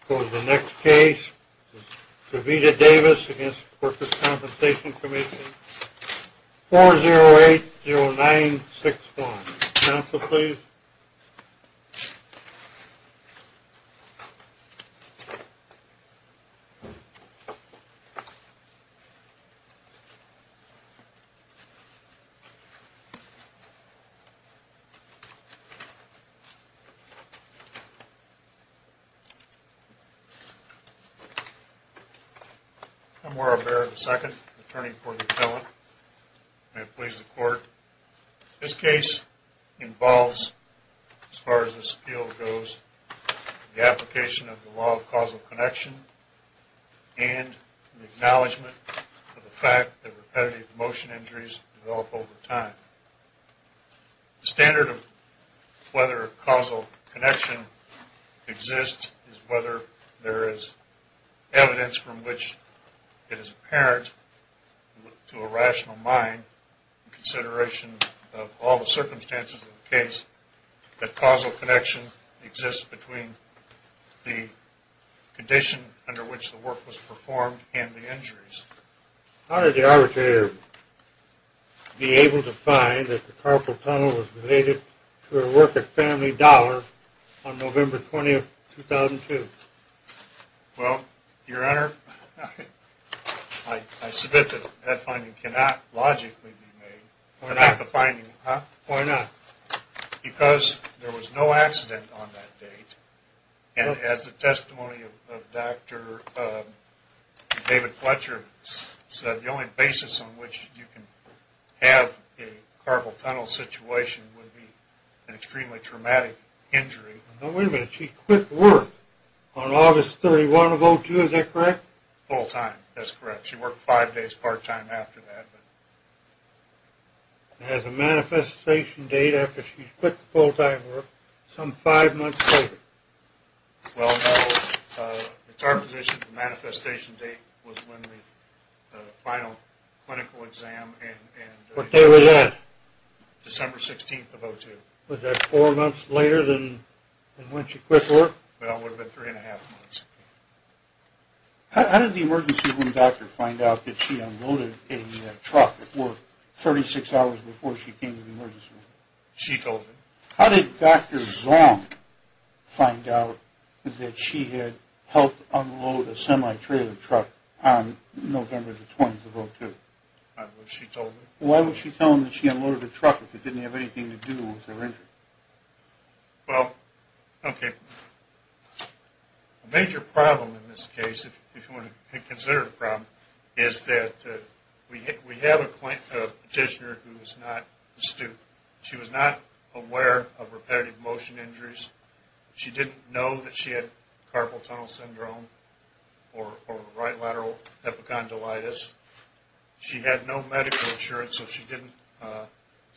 For the next case, Kavita Davis against Workers' Compensation Commission 4080961. Council, please. I'm Oral Barrett II, attorney for the appellant. May it please the court, this case involves, as far as this appeal goes, the application of the law of causal connection and the acknowledgement of the fact that repetitive motion injuries develop over time. The standard of whether causal connection exists is whether there is evidence from which it is apparent to a rational mind, in consideration of all the circumstances of the case, that causal connection exists between the condition under which the work was performed and the injuries. How did the arbitrator be able to find that the carpal tunnel was related to her work at Family Dollar on November 20, 2002? Well, Your Honor, I submit that that finding cannot logically be made. Why not? Because there was no accident on that date, and as the testimony of Dr. David Fletcher said, the only basis on which you can have a carpal tunnel situation would be an extremely traumatic injury. Now wait a minute, she quit work on August 31 of 2002, is that correct? Full-time, that's correct. She worked five days part-time after that. It has a manifestation date after she quit the full-time work, some five months later. Well, no, it's our position the manifestation date was when the final clinical exam and... What day was that? December 16th of 2002. Was that four months later than when she quit work? Well, it would have been three and a half months. How did the emergency room doctor find out that she unloaded a truck at work 36 hours before she came to the emergency room? She told me. How did Dr. Zong find out that she had helped unload a semi-trailer truck on November 20, 2002? She told me. Why would she tell him that she unloaded a truck if it didn't have anything to do with her injury? Well, okay. A major problem in this case, if you want to consider the problem, is that we have a petitioner who is not astute. She was not aware of repetitive motion injuries. She didn't know that she had carpal tunnel syndrome or right lateral epicondylitis. She had no medical insurance, so she didn't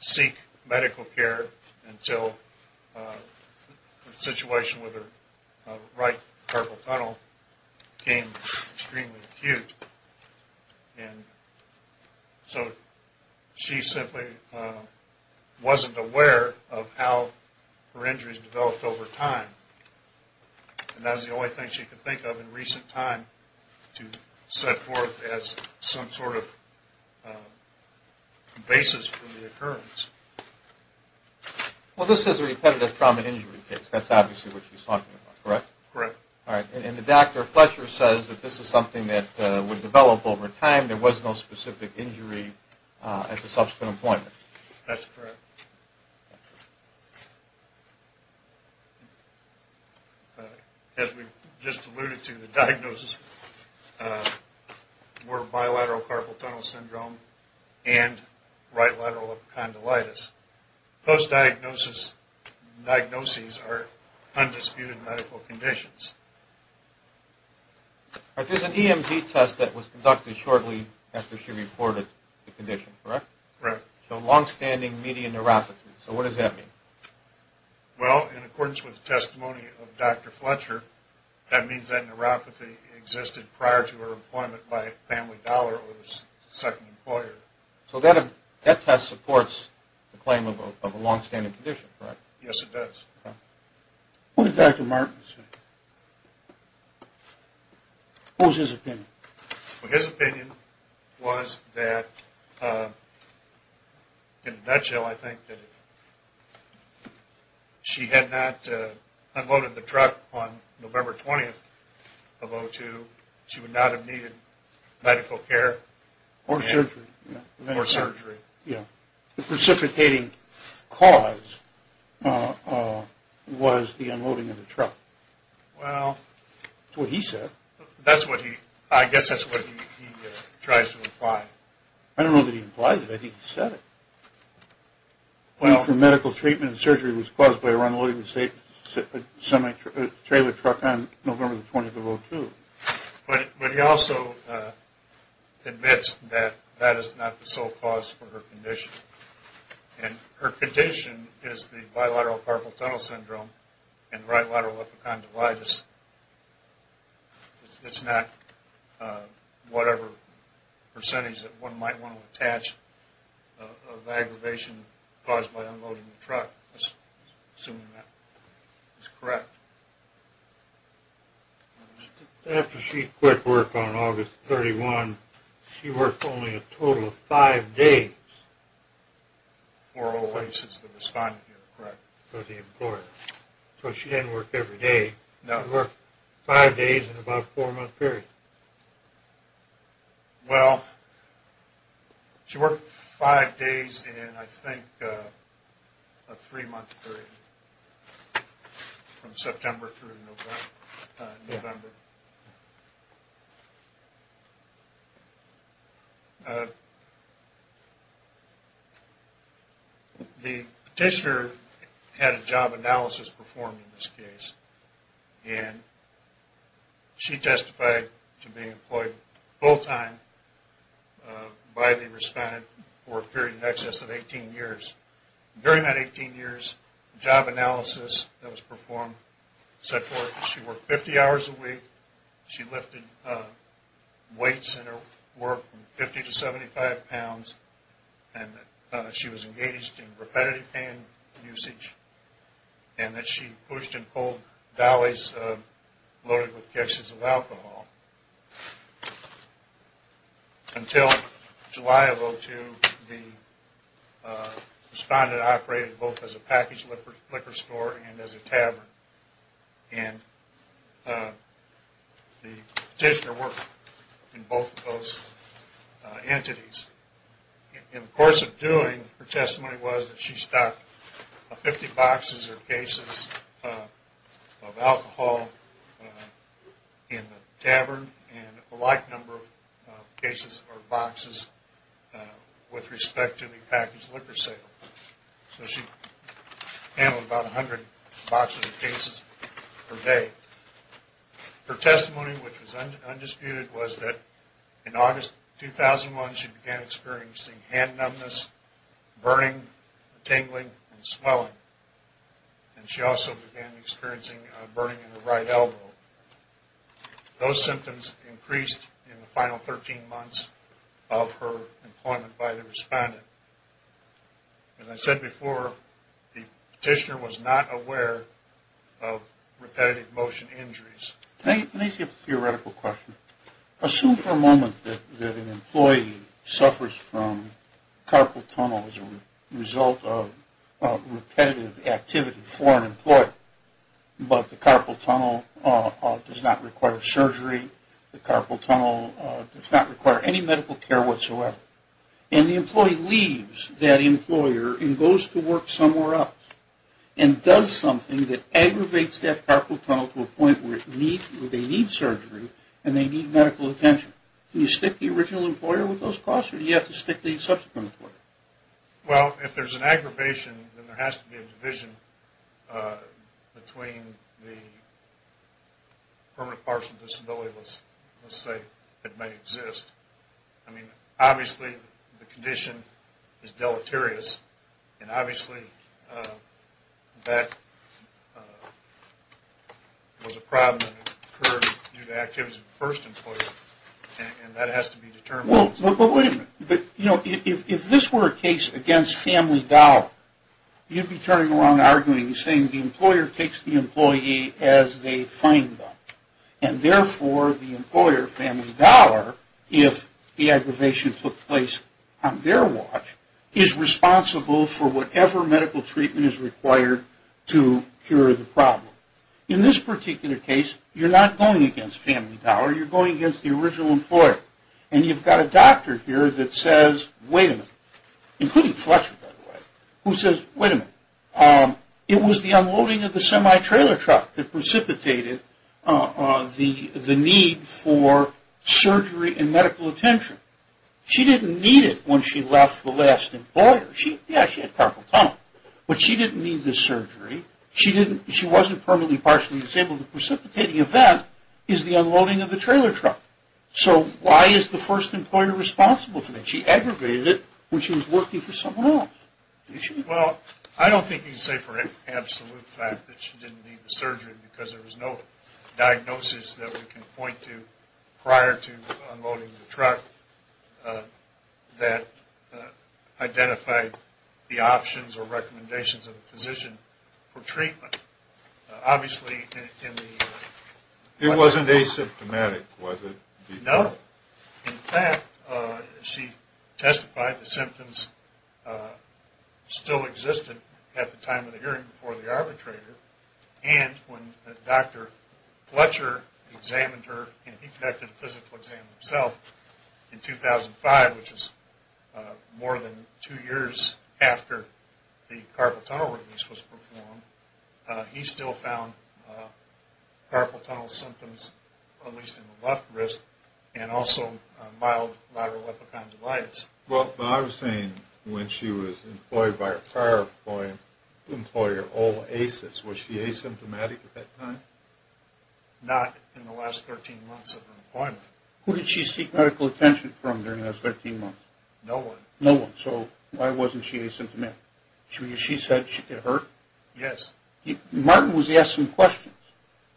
seek medical care until the situation with her right carpal tunnel became extremely acute. And so she simply wasn't aware of how her injuries developed over time. And that is the only thing she could think of in recent time to set forth as some sort of basis for the occurrence. Well, this is a repetitive trauma injury case. That's obviously what she's talking about, correct? Correct. All right. And the Dr. Fletcher says that this is something that would develop over time. There was no specific injury at the subsequent appointment. That's correct. As we just alluded to, the diagnosis were bilateral carpal tunnel syndrome and right lateral epicondylitis. Those diagnoses are undisputed medical conditions. There's an EMG test that was conducted shortly after she reported the condition, correct? Correct. So longstanding median neuropathy. So what does that mean? Well, in accordance with the testimony of Dr. Fletcher, that means that neuropathy existed prior to her appointment by family dollar or second employer. So that test supports the claim of a longstanding condition, correct? Yes, it does. Okay. What did Dr. Martin say? What was his opinion? His opinion was that, in a nutshell, I think that if she had not unloaded the truck on November 20th of 2002, she would not have needed medical care. Or surgery. Or surgery. Yeah. The precipitating cause was the unloading of the truck. Well. That's what he said. That's what he – I guess that's what he tries to imply. I don't know that he implies it. I think he said it. Well. The need for medical treatment and surgery was caused by her unloading the semi-trailer truck on November 20th of 2002. But he also admits that that is not the sole cause for her condition. And her condition is the bilateral carpal tunnel syndrome and right lateral epicondylitis. It's not whatever percentage that one might want to attach of the aggravation caused by unloading the truck. Assuming that is correct. After she quit work on August 31st, she worked only a total of five days. For all the places that responded to her, correct? For the employer. So she didn't work every day. No. She worked five days in about a four-month period. Well. She worked five days in, I think, a three-month period. From September through November. The petitioner had a job analysis performed in this case. And she testified to being employed full-time by the respondent for a period in excess of 18 years. During that 18 years, the job analysis that was performed said she worked 50 hours a week. She lifted weights in her work from 50 to 75 pounds. And she was engaged in repetitive pain usage. And that she pushed and pulled dollies loaded with cases of alcohol. Until July of 2002, the respondent operated both as a packaged liquor store and as a tavern. And the petitioner worked in both of those entities. In the course of doing, her testimony was that she stocked 50 boxes or cases of alcohol in the tavern. And a like number of cases or boxes with respect to the packaged liquor sale. So she handled about 100 boxes or cases per day. Her testimony, which was undisputed, was that in August 2001, she began experiencing hand numbness, burning, tingling, and swelling. And she also began experiencing a burning in the right elbow. Those symptoms increased in the final 13 months of her employment by the respondent. As I said before, the petitioner was not aware of repetitive motion injuries. Let me ask you a theoretical question. Assume for a moment that an employee suffers from carpal tunnel as a result of repetitive activity for an employee. But the carpal tunnel does not require surgery. The carpal tunnel does not require any medical care whatsoever. And the employee leaves that employer and goes to work somewhere else. And does something that aggravates that carpal tunnel to a point where they need surgery and they need medical attention. Can you stick the original employer with those costs or do you have to stick the subsequent employer? Well, if there's an aggravation, then there has to be a division between the permanent partial disability, let's say, that might exist. I mean, obviously, the condition is deleterious. And obviously, that was a problem that occurred due to activity of the first employer. And that has to be determined. Well, but wait a minute. You know, if this were a case against family dollar, you'd be turning around arguing, saying the employer takes the employee as they find them. And therefore, the employer, family dollar, if the aggravation took place on their watch, is responsible for whatever medical treatment is required to cure the problem. In this particular case, you're not going against family dollar. You're going against the original employer. And you've got a doctor here that says, wait a minute, including Fletcher, by the way, who says, wait a minute. It was the unloading of the semi-trailer truck that precipitated the need for surgery and medical attention. She didn't need it when she left the last employer. Yeah, she had carpal tunnel, but she didn't need the surgery. She wasn't permanently partially disabled. The precipitating event is the unloading of the trailer truck. So why is the first employer responsible for that? She aggravated it when she was working for someone else. Well, I don't think you can say for absolute fact that she didn't need the surgery because there was no diagnosis that we can point to prior to unloading the truck that identified the options or recommendations of the physician for treatment. Obviously, in the... It wasn't asymptomatic, was it? No. In fact, she testified the symptoms still existed at the time of the hearing before the arbitrator. And when Dr. Fletcher examined her and he conducted a physical exam himself in 2005, which is more than two years after the carpal tunnel release was performed, he still found carpal tunnel symptoms, at least in the left wrist, and also mild lateral epicondylitis. Well, I was saying when she was employed by her prior employer, OASIS, was she asymptomatic at that time? Not in the last 13 months of her employment. Who did she seek medical attention from during those 13 months? No one. No one. So why wasn't she asymptomatic? She said it hurt? Yes. Martin was asked some questions,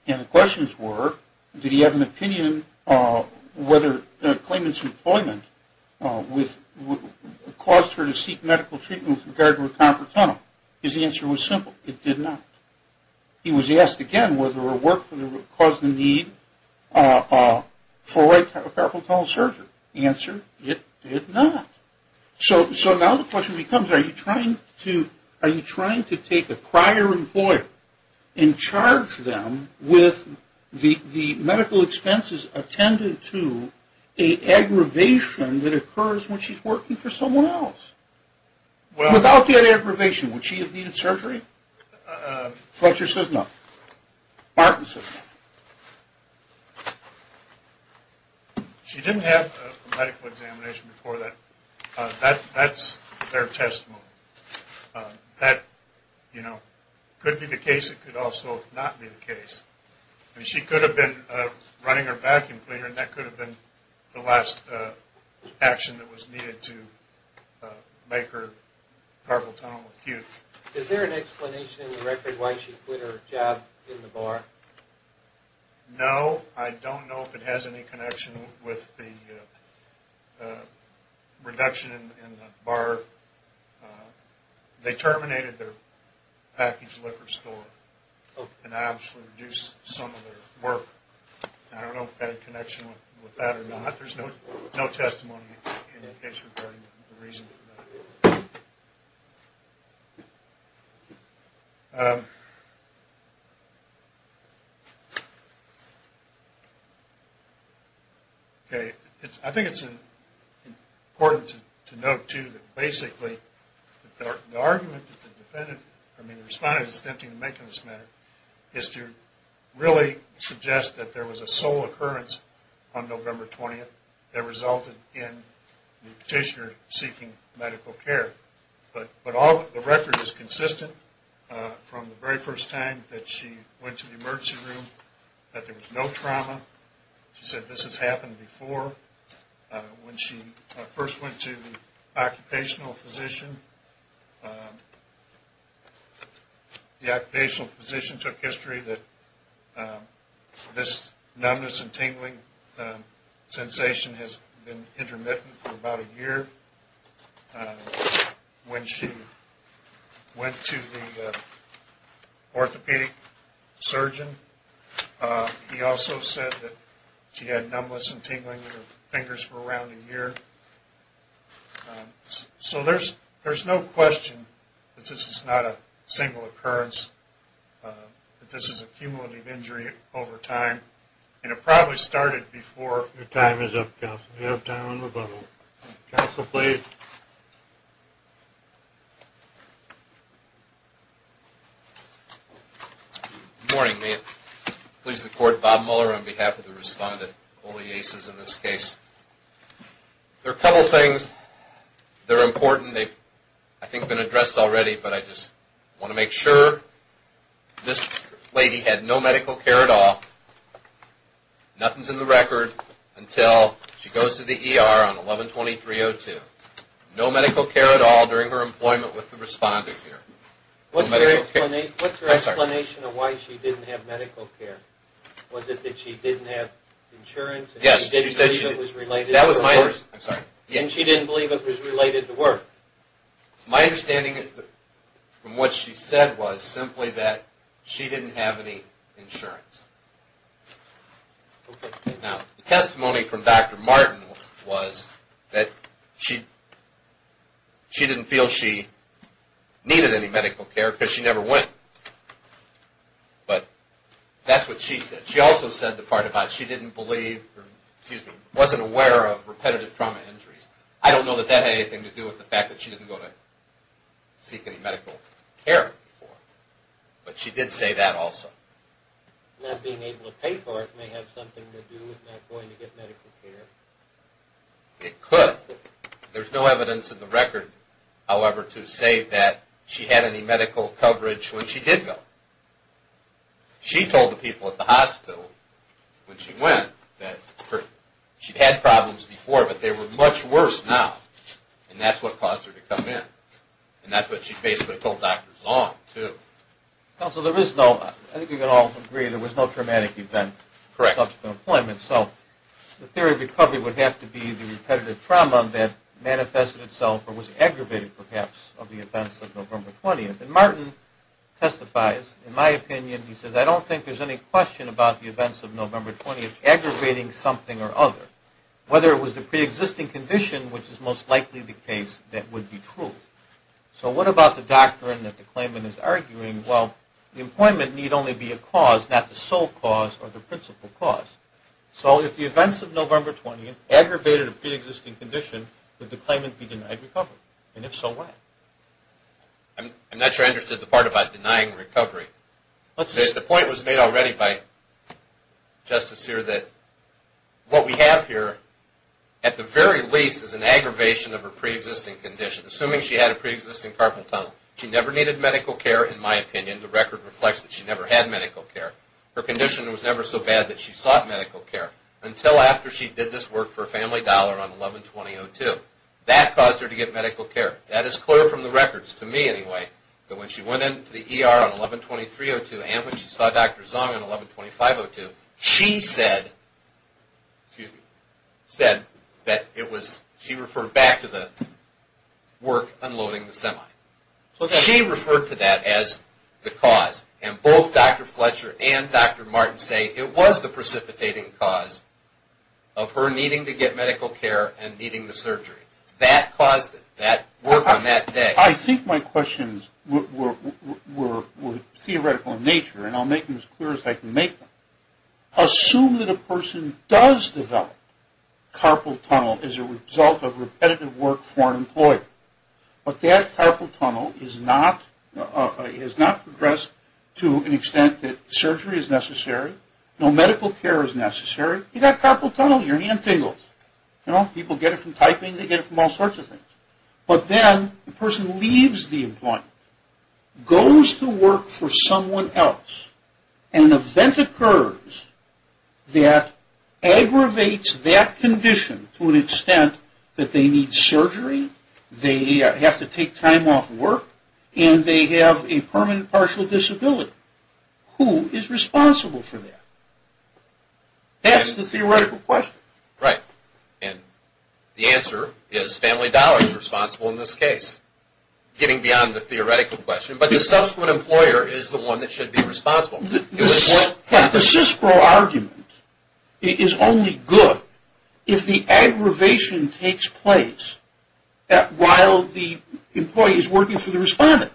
and the questions were, did he have an opinion whether the claimant's employment caused her to seek medical treatment with regard to her carpal tunnel? His answer was simple, it did not. He was asked again whether her work caused the need for a carpal tunnel surgery. The answer, it did not. So now the question becomes, are you trying to take a prior employer and charge them with the medical expenses attended to an aggravation that occurs when she's working for someone else? Without that aggravation, would she have needed surgery? Fletcher says no. Martin says no. She didn't have a medical examination before that. That's their testimony. That could be the case. It could also not be the case. She could have been running her vacuum cleaner, and that could have been the last action that was needed to make her carpal tunnel acute. Is there an explanation in the record why she quit her job in the bar? No. I don't know if it has any connection with the reduction in the bar. They terminated their packaged liquor store, and that actually reduced some of their work. I don't know if that had a connection with that or not. There's no testimony in the case regarding the reason for that. I think it's important to note, too, that basically the argument that the defendant, I mean the respondent is attempting to make in this matter, is to really suggest that there was a sole occurrence on November 20th that resulted in the petitioner seeking medical care. But the record is consistent from the very first time that she went to the emergency room that there was no trauma. She said this has happened before. When she first went to the occupational physician, the occupational physician took history that this numbness and tingling sensation has been intermittent for about a year. When she went to the orthopedic surgeon, he also said that she had numbness and tingling in her fingers for around a year. So there's no question that this is not a single occurrence, that this is a cumulative injury over time, and it probably started before. Your time is up, counsel. We have time on the button. Counsel, please. Good morning. May it please the Court, Bob Mueller on behalf of the respondent, all the aces in this case. There are a couple of things that are important. They've, I think, been addressed already, but I just want to make sure. This lady had no medical care at all. Nothing's in the record until she goes to the ER on 11-23-02. No medical care at all during her employment with the respondent here. What's her explanation of why she didn't have medical care? Was it that she didn't have insurance and she didn't believe it was related to her work? And she didn't believe it was related to work? My understanding from what she said was simply that she didn't have any insurance. Now, the testimony from Dr. Martin was that she didn't feel she needed any medical care because she never went. But that's what she said. She also said the part about she didn't believe or wasn't aware of repetitive trauma injuries. I don't know that that had anything to do with the fact that she didn't go to seek any medical care before, but she did say that also. Not being able to pay for it may have something to do with not going to get medical care. It could. There's no evidence in the record, however, to say that she had any medical coverage when she did go. She told the people at the hospital when she went that she'd had problems before, but they were much worse now, and that's what caused her to come in. And that's what she basically told Dr. Zong, too. Counsel, I think we can all agree there was no traumatic event subject to employment. So the theory of recovery would have to be the repetitive trauma that manifested itself or was aggravated, perhaps, of the events of November 20th. And Martin testifies. In my opinion, he says, I don't think there's any question about the events of November 20th aggravating something or other, whether it was the preexisting condition, which is most likely the case, that would be true. So what about the doctrine that the claimant is arguing? Well, the employment need only be a cause, not the sole cause or the principal cause. So if the events of November 20th aggravated a preexisting condition, would the claimant be denied recovery? And if so, why? I'm not sure I understood the part about denying recovery. The point was made already by Justice here that what we have here, at the very least, is an aggravation of her preexisting condition. Assuming she had a preexisting carpal tunnel. She never needed medical care, in my opinion. The record reflects that she never had medical care. Her condition was never so bad that she sought medical care. Until after she did this work for a family dollar on 11-20-02. That caused her to get medical care. That is clear from the records, to me anyway. But when she went into the ER on 11-23-02 and when she saw Dr. Zung on 11-25-02, she said that she referred back to the work unloading the semi. She referred to that as the cause. And both Dr. Fletcher and Dr. Martin say it was the precipitating cause of her needing to get medical care and needing the surgery. That caused it. That work on that day. I think my questions were theoretical in nature, and I'll make them as clear as I can make them. Assume that a person does develop carpal tunnel as a result of repetitive work for an employer. But that carpal tunnel is not progressed to an extent that surgery is necessary, no medical care is necessary. You've got carpal tunnel, your hand tingles. People get it from typing. They get it from all sorts of things. But then the person leaves the employment, goes to work for someone else, and an event occurs that aggravates that condition to an extent that they need surgery, they have to take time off work, and they have a permanent partial disability. Who is responsible for that? That's the theoretical question. Right. And the answer is family dollars responsible in this case, getting beyond the theoretical question. But the subsequent employer is the one that should be responsible. The CISPRO argument is only good if the aggravation takes place while the employee is working for the respondent.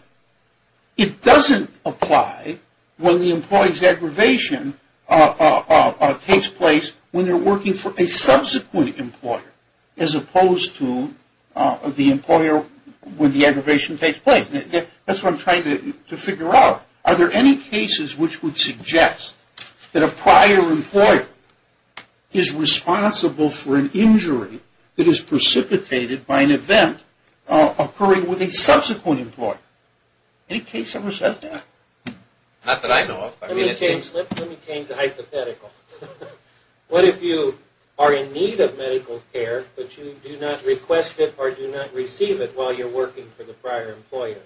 It doesn't apply when the employee's aggravation takes place when they're working for a subsequent employer as opposed to the employer when the aggravation takes place. That's what I'm trying to figure out. Are there any cases which would suggest that a prior employer is responsible for an injury that is precipitated by an event occurring with a subsequent employer? Any case ever says that? Not that I know of. Let me change the hypothetical. What if you are in need of medical care, but you do not request it or do not receive it while you're working for the prior employer?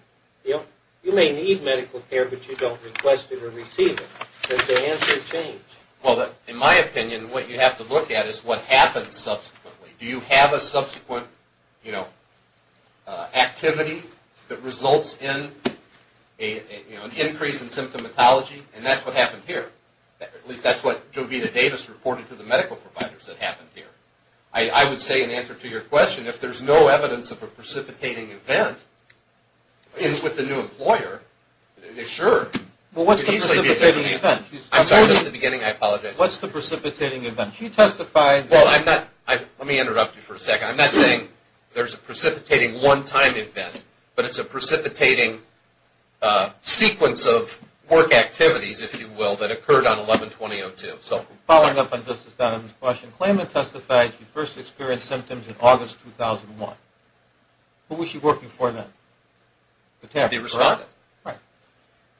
You may need medical care, but you don't request it or receive it. Does the answer change? In my opinion, what you have to look at is what happens subsequently. Do you have a subsequent activity that results in an increase in symptomatology? That's what happened here. At least that's what Jovita Davis reported to the medical providers that happened here. I would say in answer to your question, if there's no evidence of a precipitating event with the new employer, Sure. What's the precipitating event? What's the precipitating event? Let me interrupt you for a second. I'm not saying there's a precipitating one-time event, but it's a precipitating sequence of work activities, if you will, that occurred on 11-20-02. Following up on Justice Dunham's question, Klayman testified she first experienced symptoms in August 2001. Who was she working for then? The tavern. The respondent. Right.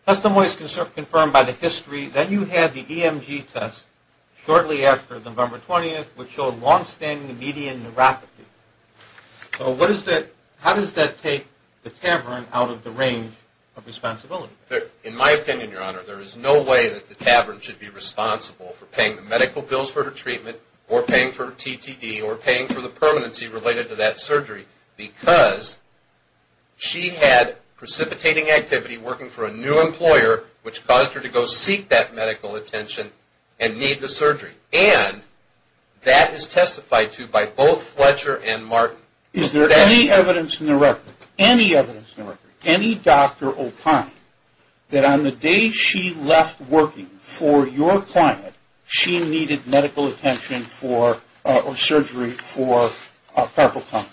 Testimony is confirmed by the history that you had the EMG test shortly after November 20th, which showed longstanding median neuropathy. How does that take the tavern out of the range of responsibility? In my opinion, Your Honor, there is no way that the tavern should be responsible for paying the medical bills for her treatment or paying for her TTD or paying for the permanency related to that surgery because she had precipitating activity working for a new employer, which caused her to go seek that medical attention and need the surgery. And that is testified to by both Fletcher and Martin. Is there any evidence in the record, any evidence in the record, any doctor or client, that on the day she left working for your client, she needed medical attention or surgery for carpal tunnel?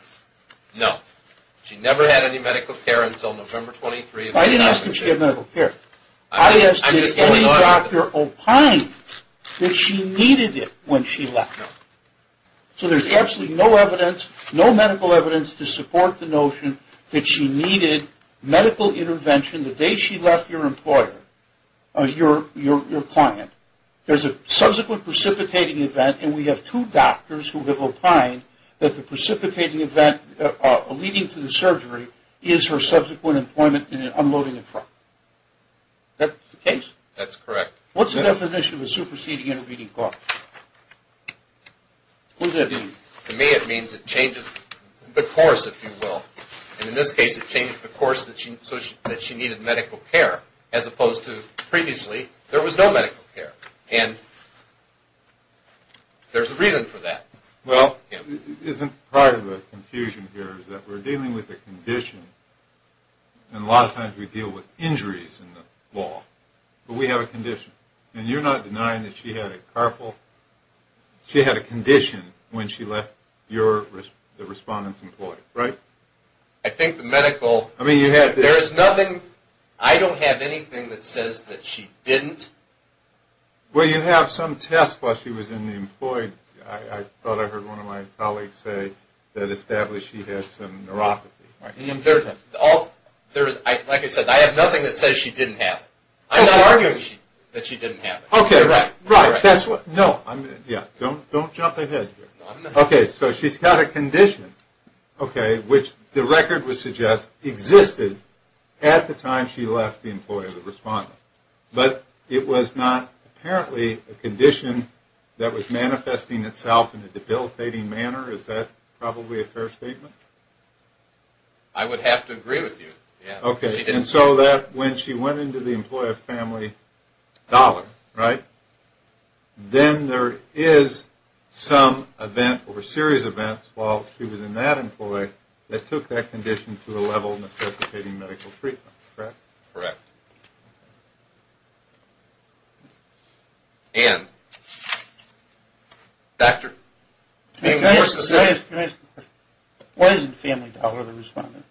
No. She never had any medical care until November 23rd. I didn't ask if she had medical care. I asked if any doctor opined that she needed it when she left. No. So there's absolutely no evidence, no medical evidence, to support the notion that she needed medical intervention the day she left your employer, your client. There's a subsequent precipitating event, and we have two doctors who have opined that the precipitating event leading to the surgery is her subsequent employment in unloading a truck. Is that the case? That's correct. What's the definition of a superseding intervening cost? What does that mean? To me it means it changes the course, if you will. And in this case it changed the course that she needed medical care, as opposed to previously there was no medical care. And there's a reason for that. Well, isn't part of the confusion here is that we're dealing with a condition, and a lot of times we deal with injuries in the law. But we have a condition. And you're not denying that she had a condition when she left the respondent's employee, right? I think the medical, there is nothing. I don't have anything that says that she didn't. Well, you have some tests while she was in the employee. I thought I heard one of my colleagues say that established she had some neuropathy. Like I said, I have nothing that says she didn't have it. I'm not arguing that she didn't have it. Okay, right. No, don't jump ahead here. Okay, so she's got a condition, okay, which the record would suggest existed at the time she left the employee or the respondent. But it was not apparently a condition that was manifesting itself in a debilitating manner. Is that probably a fair statement? I would have to agree with you. Okay, and so that when she went into the employee of Family Dollar, right, then there is some event or a series of events while she was in that employee that took that condition to a level of necessitating medical treatment, correct? Correct. And? Doctor? Can I ask a question? Why isn't Family Dollar the respondent?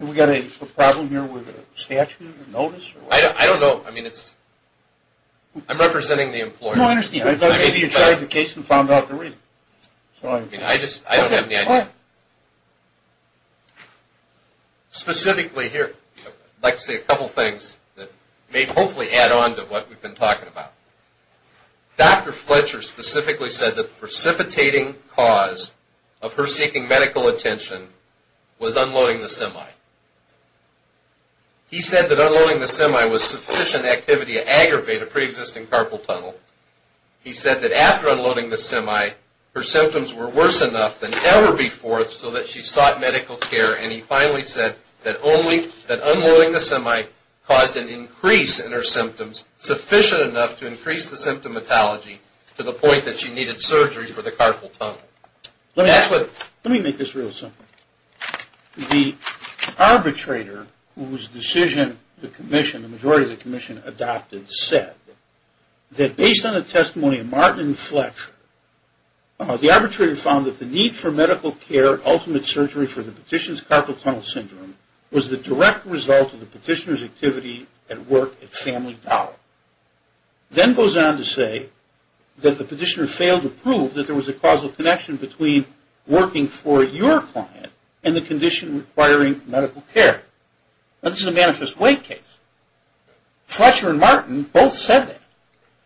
Have we got a problem here with a statute or notice? I don't know. I mean, I'm representing the employee. No, I understand. Maybe you tried the case and found out the reason. I don't have the idea. Specifically here, I'd like to say a couple things that may hopefully add on to what we've been talking about. Dr. Fletcher specifically said that the precipitating cause of her seeking medical attention was unloading the semi. He said that unloading the semi was sufficient activity to aggravate a preexisting carpal tunnel. He said that after unloading the semi, her symptoms were worse enough than ever before so that she sought medical care. And he finally said that unloading the semi caused an increase in her symptoms sufficient enough to increase the symptomatology to the point that she needed surgery for the carpal tunnel. Let me make this real simple. The arbitrator, whose decision the majority of the commission adopted, said that based on the testimony of Martin and Fletcher, the arbitrator found that the need for medical care ultimate surgery for the petitioner's carpal tunnel syndrome was the direct result of the petitioner's activity at work at Family Dollar. Then goes on to say that the petitioner failed to prove that there was a causal connection between working for your client and the condition requiring medical care. Now, this is a manifest way case. Fletcher and Martin both said that.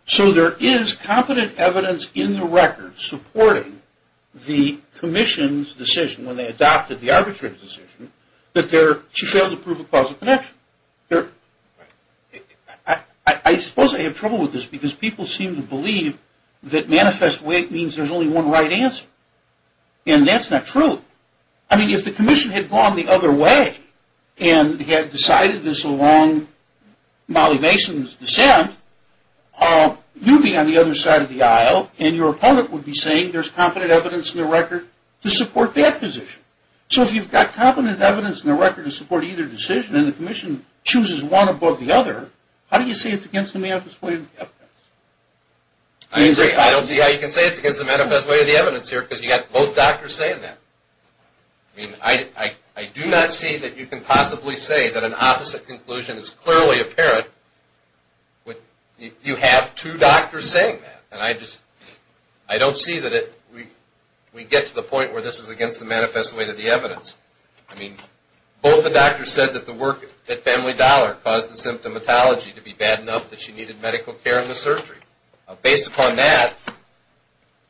So there is competent evidence in the record supporting the commission's decision when they adopted the arbitrator's decision that she failed to prove a causal connection. I suppose I have trouble with this because people seem to believe that manifest way means there's only one right answer. And that's not true. I mean, if the commission had gone the other way and had decided this along Molly Mason's descent, you'd be on the other side of the aisle and your opponent would be saying there's competent evidence in the record to support that position. So if you've got competent evidence in the record to support either decision and the commission chooses one above the other, how do you say it's against the manifest way of the evidence? I agree. I don't see how you can say it's against the manifest way of the evidence here because you've got both doctors saying that. I mean, I do not see that you can possibly say that an opposite conclusion is clearly apparent when you have two doctors saying that. And I don't see that we get to the point where this is against the manifest way of the evidence. I mean, both the doctors said that the work at Family Dollar caused the symptomatology to be bad enough that she needed medical care in the surgery. Based upon that,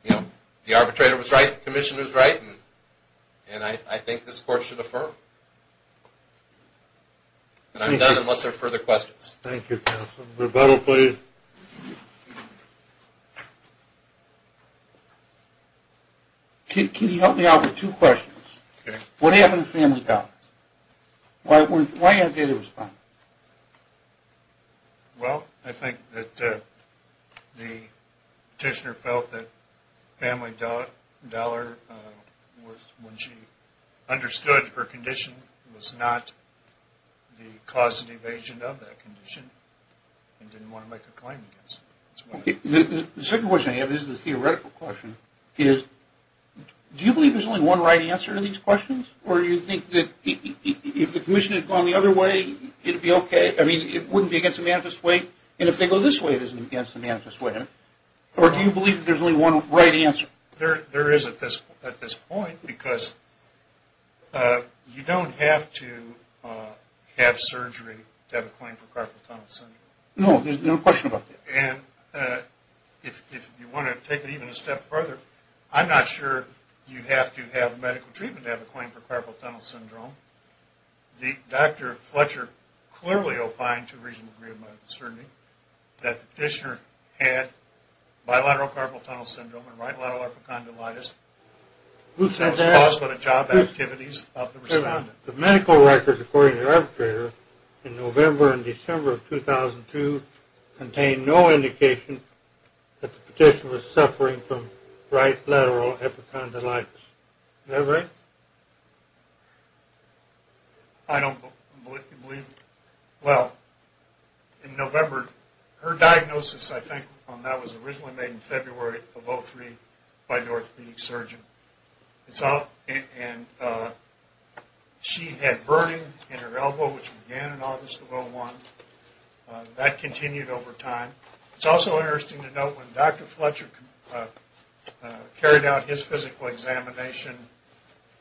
you know, the arbitrator was right, the commissioner was right, and I think this court should affirm. And I'm done unless there are further questions. Thank you, counsel. Roberto, please. Can you help me out with two questions? Okay. What happened at Family Dollar? Why aren't they responding? Well, I think that the petitioner felt that Family Dollar, when she understood her condition, was not the causative agent of that condition and didn't want to make a claim against it. The second question I have is the theoretical question, is do you believe there's only one right answer to these questions or do you think that if the commission had gone the other way, it would be okay? I mean, it wouldn't be against the manifest way. And if they go this way, it isn't against the manifest way. Or do you believe that there's only one right answer? There is at this point because you don't have to have surgery to have a claim for carpal tunnel syndrome. No, there's no question about that. And if you want to take it even a step further, I'm not sure you have to have medical treatment to have a claim for carpal tunnel syndrome. Dr. Fletcher clearly opined to a reasonable degree of my uncertainty that the petitioner had bilateral carpal tunnel syndrome and right lateral arpicondylitis that was caused by the job activities of the respondent. The medical records, according to the arbitrator, in November and December of 2002, contained no indication that the petitioner was suffering from right lateral arpicondylitis. Is that right? I don't believe it. Well, in November, her diagnosis, I think, on that was originally made in February of 2003 by an orthopedic surgeon. And she had burning in her elbow, which began in August of 2001. That continued over time. It's also interesting to note when Dr. Fletcher carried out his physical examination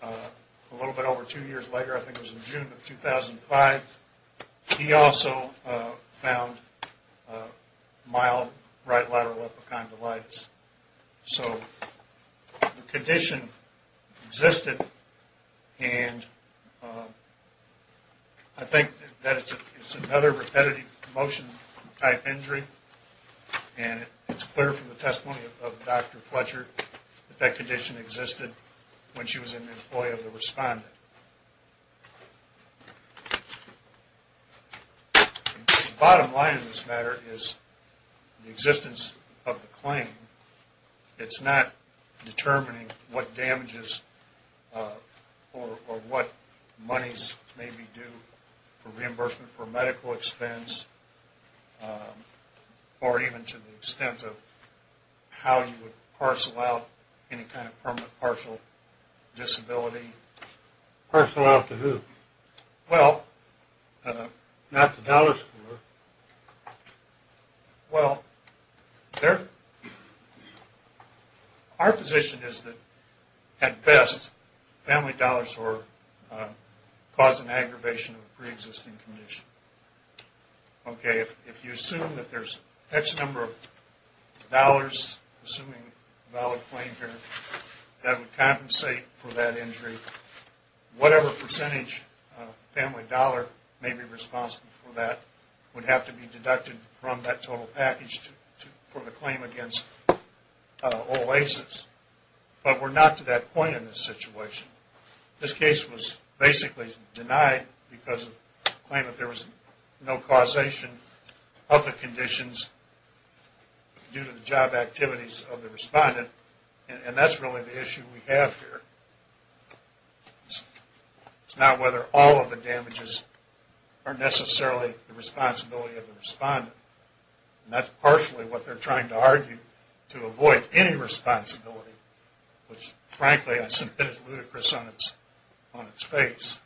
a little bit over two years later, I think it was in June of 2005, he also found mild right lateral arpicondylitis. So the condition existed. And I think that it's another repetitive motion type injury. And it's clear from the testimony of Dr. Fletcher that that condition existed when she was an employee of the respondent. The bottom line in this matter is the existence of the claim, it's not determining what damages or what monies may be due for reimbursement for medical expense or even to the extent of how you would parcel out any kind of permanent partial disability, parcel out to who? Well, not the dollar store. Well, our position is that, at best, family dollars were causing aggravation of a preexisting condition. Okay, if you assume that there's X number of dollars, assuming a valid claim here, that would compensate for that injury, whatever percentage family dollar may be responsible for that would have to be deducted from that total package for the claim against all ACEs. But we're not to that point in this situation. This case was basically denied because of the claim that there was no causation of the conditions due to the job activities of the respondent. And that's really the issue we have here. It's not whether all of the damages are necessarily the responsibility of the respondent. And that's partially what they're trying to argue, to avoid any responsibility, which, frankly, I think is ludicrous on its face.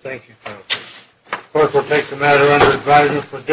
Thank you. Of course, we'll take the matter under advisement.